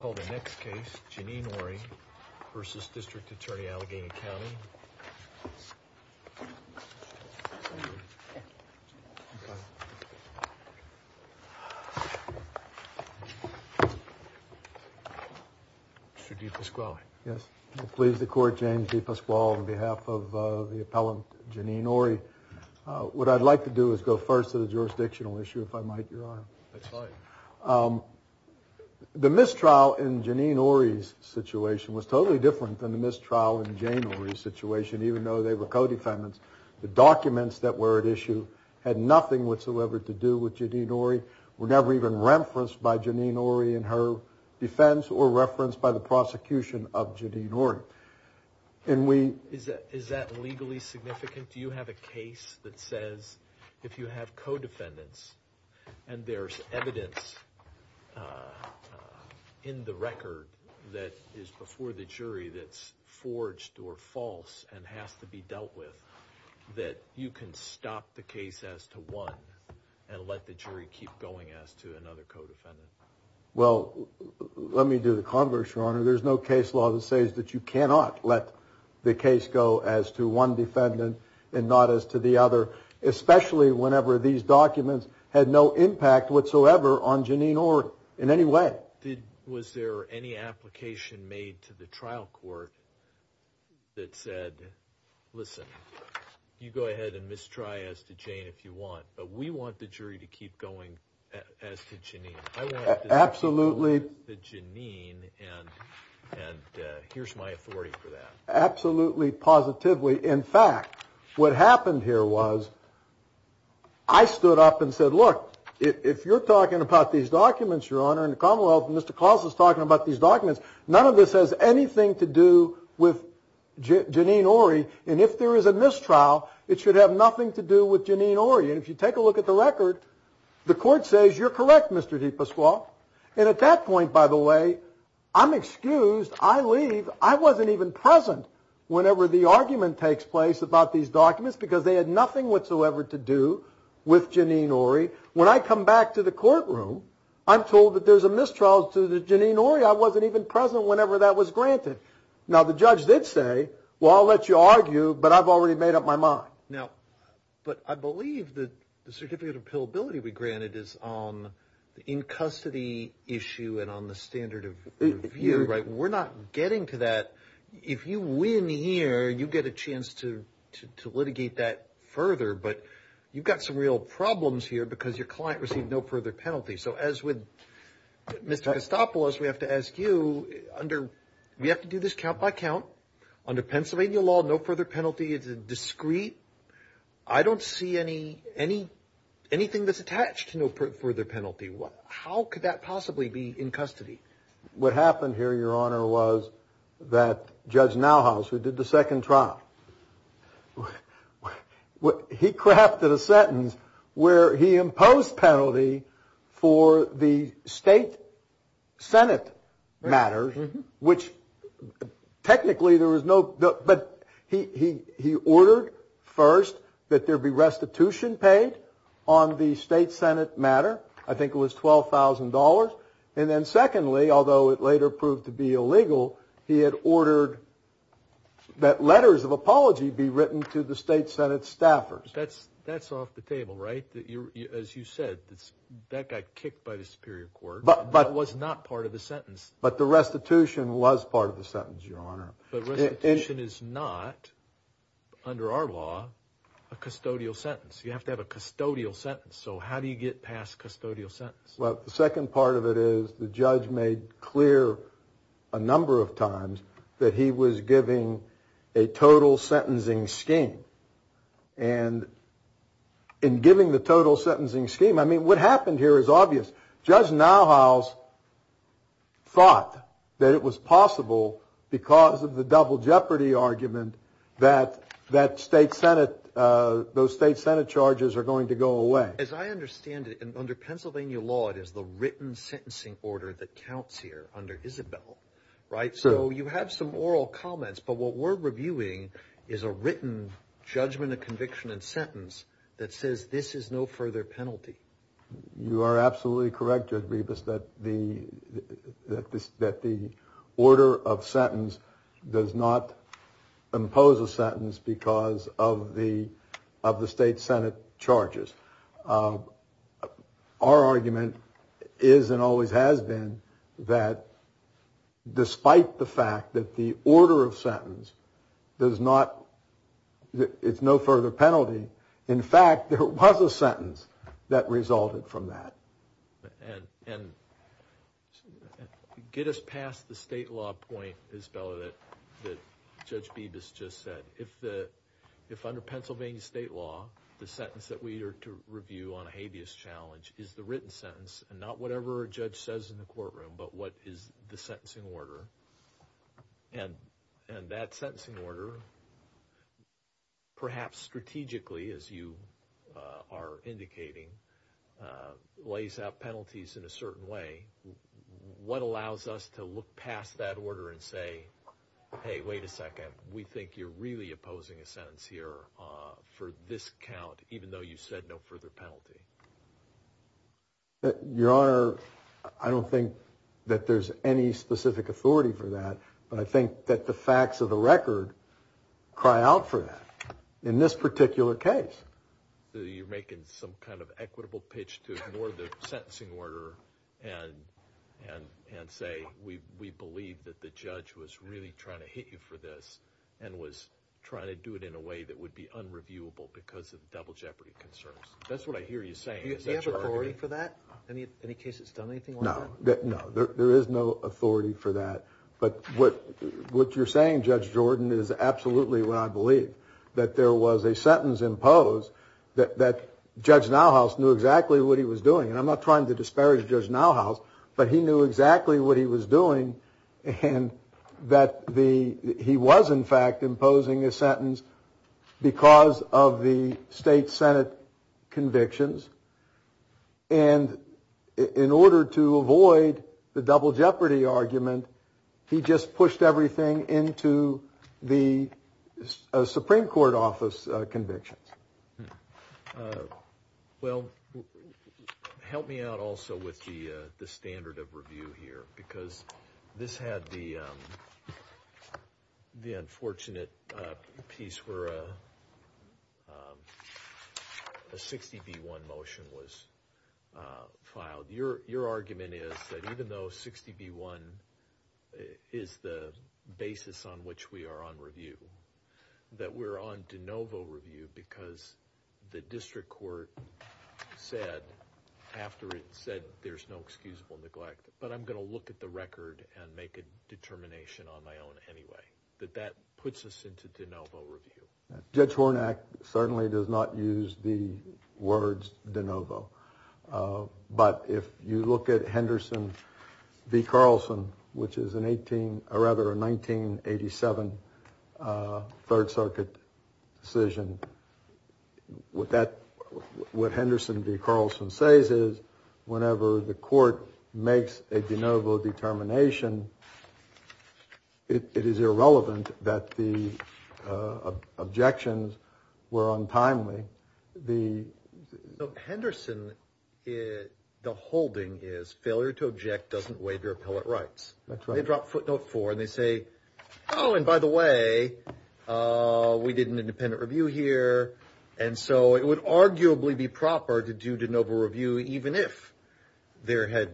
County. Mr. DePasquale. Yes. Please, the Court, James DePasquale on behalf of the appellant Janine Orie. What I'd like to do is go first to the jurisdictional issue, if I might, Your Honor. The mistrial in Janine Orie's situation was totally different than the mistrial in Jane Orie's situation, even though they were co-defendants. The documents that were at issue had nothing whatsoever to do with Janine Orie, were never even referenced by Janine Orie in her defense or referenced by the prosecution of Janine Orie. And we... Is that legally significant? Do you have a case that says if you have co-defendants and there's evidence in the record that is before the jury that's forged or false and has to be dealt with that you can stop the case as to one and let the jury keep going as to another co-defendant? Well, let me do the converse, Your Honor. There's no case law that says that you cannot let the case go as to one defendant and not as to the other, especially whenever these co-defendants are involved in a case that is not related to Janine Orie in any way. Was there any application made to the trial court that said, listen, you go ahead and mistry as to Jane if you want, but we want the jury to keep going as to Janine. Absolutely. And here's my authority for that. Absolutely, positively. In fact, what happened here was I stood up and said, look, if you're talking about these documents, Your Honor, and the Commonwealth and Mr. Claus is talking about these documents, none of this has anything to do with Janine Orie. And if there is a mistrial, it should have nothing to do with Janine Orie. And if you take a look at the record, the court says you're correct, Mr. DePasquale. And at that point, by the way, I'm excused. I leave. I wasn't even present whenever the argument takes place about these documents because they had nothing whatsoever to do with Janine Orie. When I come back to the courtroom, I'm told that there's a mistrial to Janine Orie. I wasn't even present whenever that was granted. Now, the judge did say, well, I'll let you argue, but I've already made up my mind. Now, but I believe that the certificate of appealability we granted is on the in-custody issue and on the standard of review, right? We're not getting to that. If you win here, you get a chance to litigate that further. But you've got some real problems here because your client received no further penalty. So as with Mr. Costopoulos, we have to ask you, we have to do this count by count. Under Pennsylvania law, no further penalty is a discrete. I don't see anything that's What happened here, your honor, was that Judge Nauhaus, who did the second trial, he crafted a sentence where he imposed penalty for the state senate matter, which technically there was no, but he ordered first that there be restitution paid on the state senate matter. I think it was $12,000. And then secondly, although it later proved to be illegal, he had ordered that letters of apology be written to the state senate staffers. That's off the table, right? As you said, that got kicked by the superior court, but was not part of the sentence. But the restitution was part of the sentence, your honor. But restitution is not, under our law, a custodial sentence. You have to have a custodial sentence. So how do you get past custodial sentence? Well, the second part of it is the judge made clear a number of times that he was giving a total sentencing scheme. And in giving the total sentencing scheme, I mean, what happened here is obvious. Judge Nauhaus thought that it was possible because of the double jeopardy argument that those state senate charges are going to go away. As I understand it, under Pennsylvania law, it is the written sentencing order that counts here under Isabel, right? So you have some oral comments, but what we're reviewing is a written judgment of conviction and sentence that says this is no further penalty. You are absolutely correct, Judge Rebus, that the order of sentence does not impose a sentence because of the state senate charges. Our argument is and always has been that despite the fact that the order of sentence is no further penalty, in fact, there was a sentence that resulted from that. And get us past the state law point, Isabella, that Judge Bebas just said. If under Pennsylvania state law, the sentence that we are to review on a habeas challenge is the written sentence and not whatever a judge says in the courtroom, but what is the sentencing order, and that sends out penalties in a certain way, what allows us to look past that order and say, hey, wait a second, we think you're really opposing a sentence here for this count, even though you said no further penalty? Your Honor, I don't think that there's any specific authority for that, but I think that the facts of the record cry out for that in this particular case. You're making some kind of equitable pitch to ignore the sentencing order and say we believe that the judge was really trying to hit you for this and was trying to do it in a way that would be unreviewable because of double jeopardy concerns. That's what I hear you saying. Do you have authority for that? Any case that's done anything like that? No, there is no authority for that, but what you're saying, Judge Jordan, is absolutely what I believe, that there was a sentence imposed that Judge Nauhaus knew exactly what he was doing, and I'm not trying to disparage Judge Nauhaus, but he knew exactly what he was doing and that he was, in fact, imposing a sentence because of the state senate convictions, and in order to avoid the double jeopardy argument, he just pushed everything into the Supreme Court office convictions. Well, help me out also with the standard of review here, because this had the unfortunate piece where a 60 v. 1 motion was filed. Your argument is that even though 60 v. 1 is the district court said after it said there's no excusable neglect, but I'm going to look at the record and make a determination on my own anyway, that that puts us into de novo review. Judge Hornak certainly does not use the words de novo, but if you look at Henderson v. Carlson, which is a 1987 Third Circuit decision, what Henderson v. Carlson says is whenever the court makes a de novo determination, it is irrelevant that the objections were untimely. Henderson, the holding is failure to object doesn't waive your appellate rights. That's right. They drop footnote four and they say, oh, and by the way, we did an independent review here, and so it would arguably be proper to do de novo review even if there had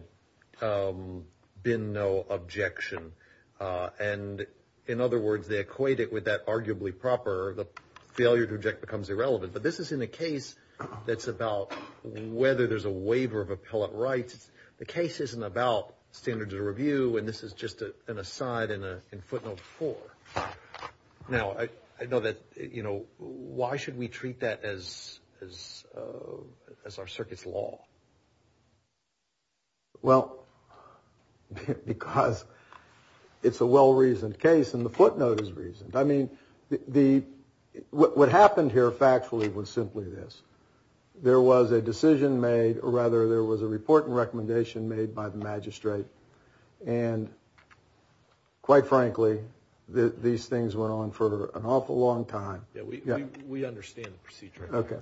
been no objection, and in other words, they equate it with that arguably proper, the failure to object becomes irrelevant. But this is in a case that's about whether there's a waiver of appellate rights. The case isn't about standards of review, and this is just an aside in footnote four. Now, I know that, you know, why should we treat that as our circuit's law? Well, because it's a well-reasoned case, and the footnote is reasoned. I mean, what happened here factually was simply this. There was a decision made, or rather there was a report and recommendation made by the magistrate, and quite frankly, these things went on for an awful long time. Yeah, we understand the procedure. Okay.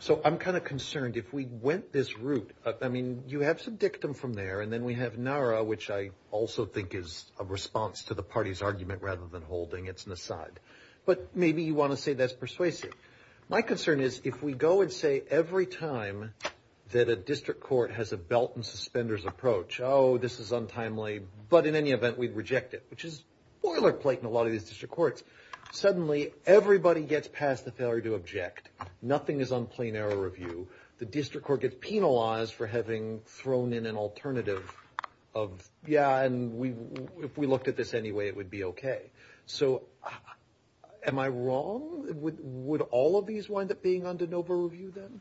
So I'm kind of concerned if we went this route, I mean, you have some dictum from there, and then we have NARA, which I also think is a response to the party's argument rather than an aside. But maybe you want to say that's persuasive. My concern is if we go and say every time that a district court has a belt and suspenders approach, oh, this is untimely, but in any event, we'd reject it, which is boilerplate in a lot of these district courts. Suddenly, everybody gets past the failure to object. Nothing is on plain error review. The district court gets penalized for having thrown in an alternative of, yeah, and if we looked at this anyway, it would be okay. So am I wrong? Would all of these wind up being on de novo review then?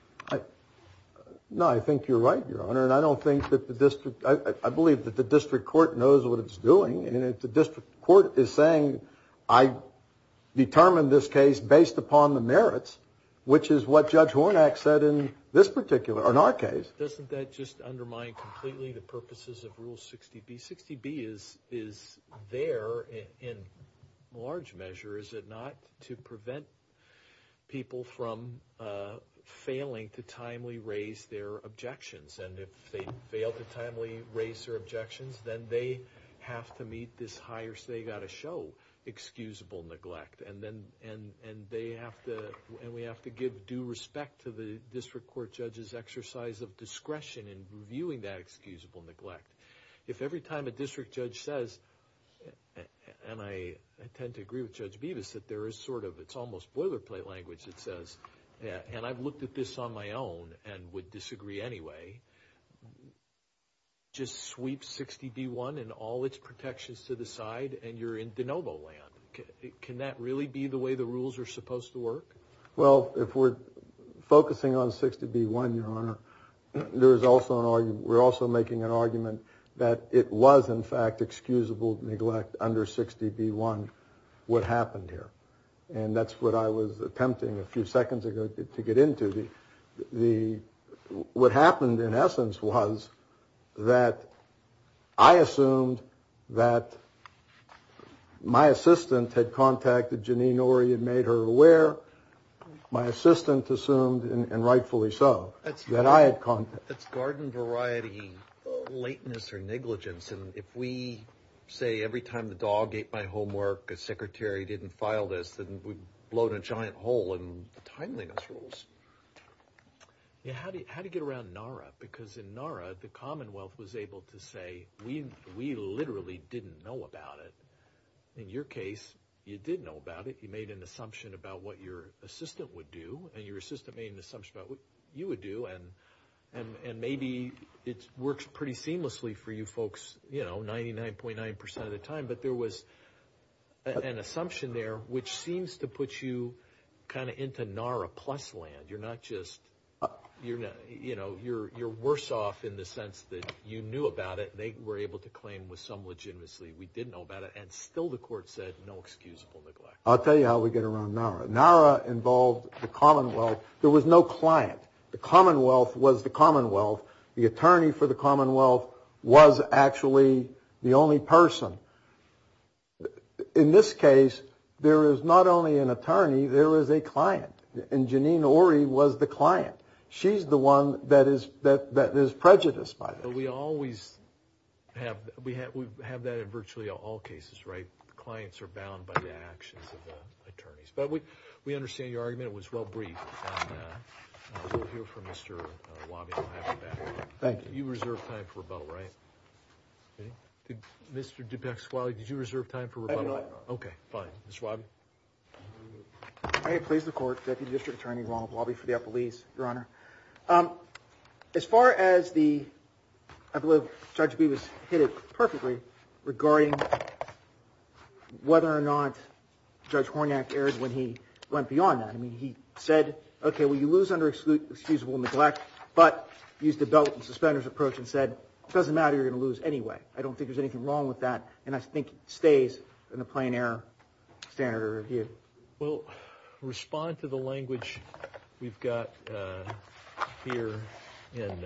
No, I think you're right, Your Honor, and I don't think that the district, I believe that the district court knows what it's doing, and if the district court is saying, I determined this case based upon the merits, which is what Judge Hornak said in this particular, in our case. Doesn't that just undermine completely the purposes of Rule 60B? Rule 60B is there in large measure, is it not, to prevent people from failing to timely raise their objections, and if they fail to timely raise their objections, then they have to meet this higher, so they've got to show excusable neglect, and we have to give due respect to the district court judge's exercise of discretion in reviewing that excusable neglect. If every time a district judge says, and I tend to agree with Judge Bevis, that there is sort of, it's almost boilerplate language that says, and I've looked at this on my own and would disagree anyway, just sweep 60B1 and all its protections to the side and you're in de novo land, can that really be the way the rules are supposed to work? Well, if we're focusing on 60B1, Your Honor, there is also an argument, we're also making an argument that it was, in fact, excusable neglect under 60B1 what happened here, and that's what I was attempting a few seconds ago to get into. What happened, in essence, was that I assumed that my assistant had contacted Janine Orr, he had made her aware, my assistant assumed, and rightfully so, that I had contacted her. That's garden variety, lateness or negligence, and if we say every time the dog ate my homework, the secretary didn't file this, then we've blown a giant hole in the timeliness rules. Yeah, how do you get around NARA? Because in NARA, the Commonwealth was able to say, we literally didn't know about it. In your case, you did know about it, you made an assumption about what your assistant would do, and your assistant made an assumption about what you would do, and maybe it works pretty seamlessly for you folks, you know, 99.9% of the time, but there was an assumption there which seems to put you kind of into NARA plus land. You're worse off in the sense that you knew about it, they were able to claim with some legitimacy we did know about it, and still the court said no excusable neglect. I'll tell you how we get around NARA. NARA involved the Commonwealth. There was no client. The Commonwealth was the Commonwealth. The attorney for the Commonwealth was actually the only person. In this case, there is not only an attorney, there is a client, and Janine Ory was the client. She's the one that is prejudiced by this. We always have that in virtually all cases, right? Clients are bound by the actions of the attorneys, but we understand your argument. It was well briefed, and we'll hear from Mr. Wabi. We'll have him back. Thank you. You reserved time for rebuttal, right? Did Mr. Dubek-Swale, did you reserve time for rebuttal? I did not, Your Honor. Okay, fine. Mr. Wabi. May it please the Court, Deputy District Attorney Ronald Wabi for the Appellees, Your Honor. As far as the, I believe Judge Bee was hit it perfectly regarding whether or not Judge Hornak erred when he went beyond that. I mean, he said, okay, well, you lose under excusable neglect, but used a belt and suspenders approach and said, it doesn't matter, you're going to lose anyway. I don't think there's anything wrong with that, and I think it stays in the plain error standard of review. Well, respond to the language we've got here in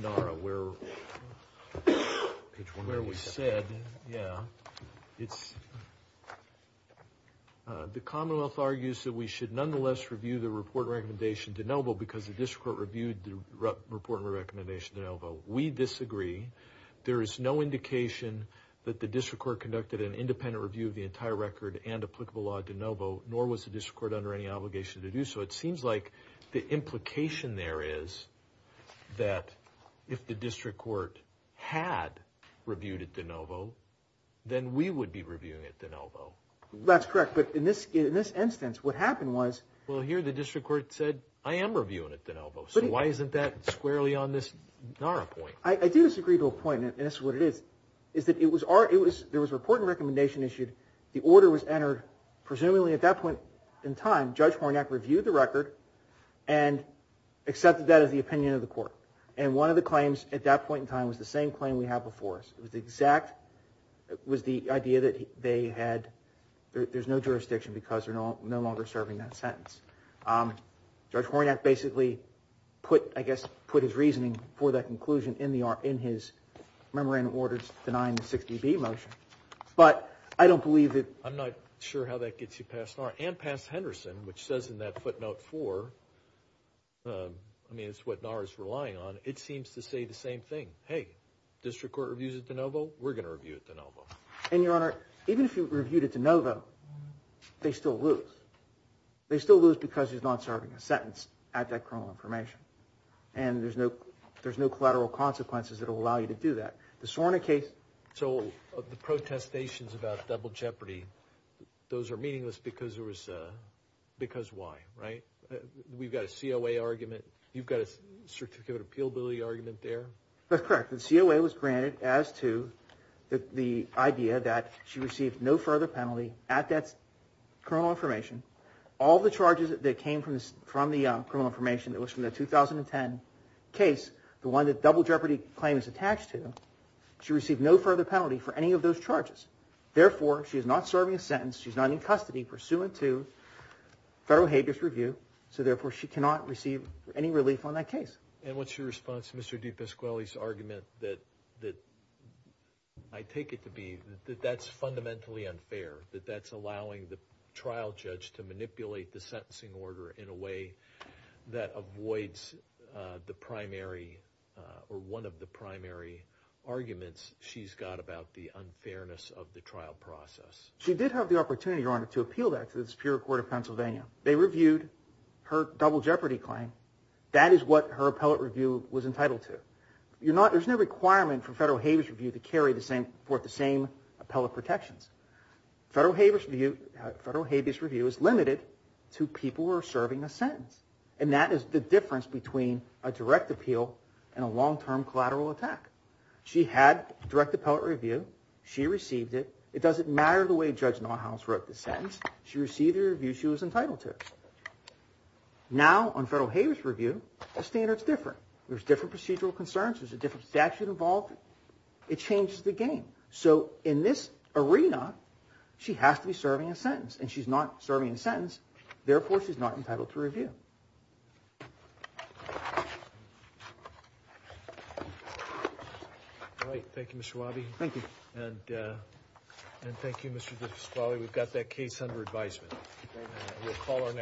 NARA where we said, yeah, it's, the Commonwealth argues that we should nonetheless review the report and recommendation de novo because the district court reviewed the report and recommendation de novo. We disagree. There is no indication that the district court conducted an independent review of the entire record and applicable law de novo, nor was the district court under any obligation to do so. It seems like the implication there is that if the district court had reviewed it de novo, then we would be reviewing it de novo. That's correct, but in this instance, what happened was. Well, here the district court said, I am reviewing it de novo. So why isn't that squarely on this NARA point? I do disagree to a point, and this is what it is, is that there was a report and recommendation issued. The order was entered. Presumably at that point in time, Judge Hornak reviewed the record and accepted that as the opinion of the court, and one of the claims at that point in time was the same claim we have before us. It was the exact, it was the idea that they had, there's no jurisdiction because they're no longer serving that sentence. Judge Hornak basically put, I guess, put his reasoning for that conclusion in his memorandum of orders denying the 60B motion, but I don't believe that. I'm not sure how that gets you past NARA and past Henderson, which says in that footnote four, I mean, it's what NARA is relying on. It seems to say the same thing. Hey, district court reviews it de novo, we're going to review it de novo. And, Your Honor, even if you reviewed it de novo, they still lose. They still lose because he's not serving a sentence at that criminal information, and there's no collateral consequences that will allow you to do that. The Hornak case. So the protestations about double jeopardy, those are meaningless because there was, because why, right? We've got a COA argument. You've got a certificate of appealability argument there. That's correct. The COA was granted as to the idea that she received no further penalty at that criminal information. All the charges that came from the criminal information that was from the 2010 case, the one that double jeopardy claim is attached to, she received no further penalty for any of those charges. Therefore, she is not serving a sentence. She's not in custody pursuant to federal habeas review. So, therefore, she cannot receive any relief on that case. And what's your response to Mr. DiPasquale's argument that I take it to be that that's fundamentally unfair, that that's allowing the trial judge to manipulate the sentencing order in a way that avoids the primary or one of the primary arguments she's got about the unfairness of the trial process. She did have the opportunity, Your Honor, to appeal that to the Superior Court of Pennsylvania. They reviewed her double jeopardy claim. That is what her appellate review was entitled to. There's no requirement for federal habeas review to carry the same appellate protections. Federal habeas review is limited to people who are serving a sentence. And that is the difference between a direct appeal and a long-term collateral attack. She had direct appellate review. She received it. It doesn't matter the way Judge Nauhaus wrote the sentence. She received the review she was entitled to. Now, on federal habeas review, the standards differ. There's different procedural concerns. There's a different statute involved. It changes the game. So, in this arena, she has to be serving a sentence. And she's not serving a sentence. Therefore, she's not entitled to review. All right. Thank you, Mr. Wabi. Thank you. And thank you, Mr. Vesquale. We've got that case under advisement. We'll call our next witness.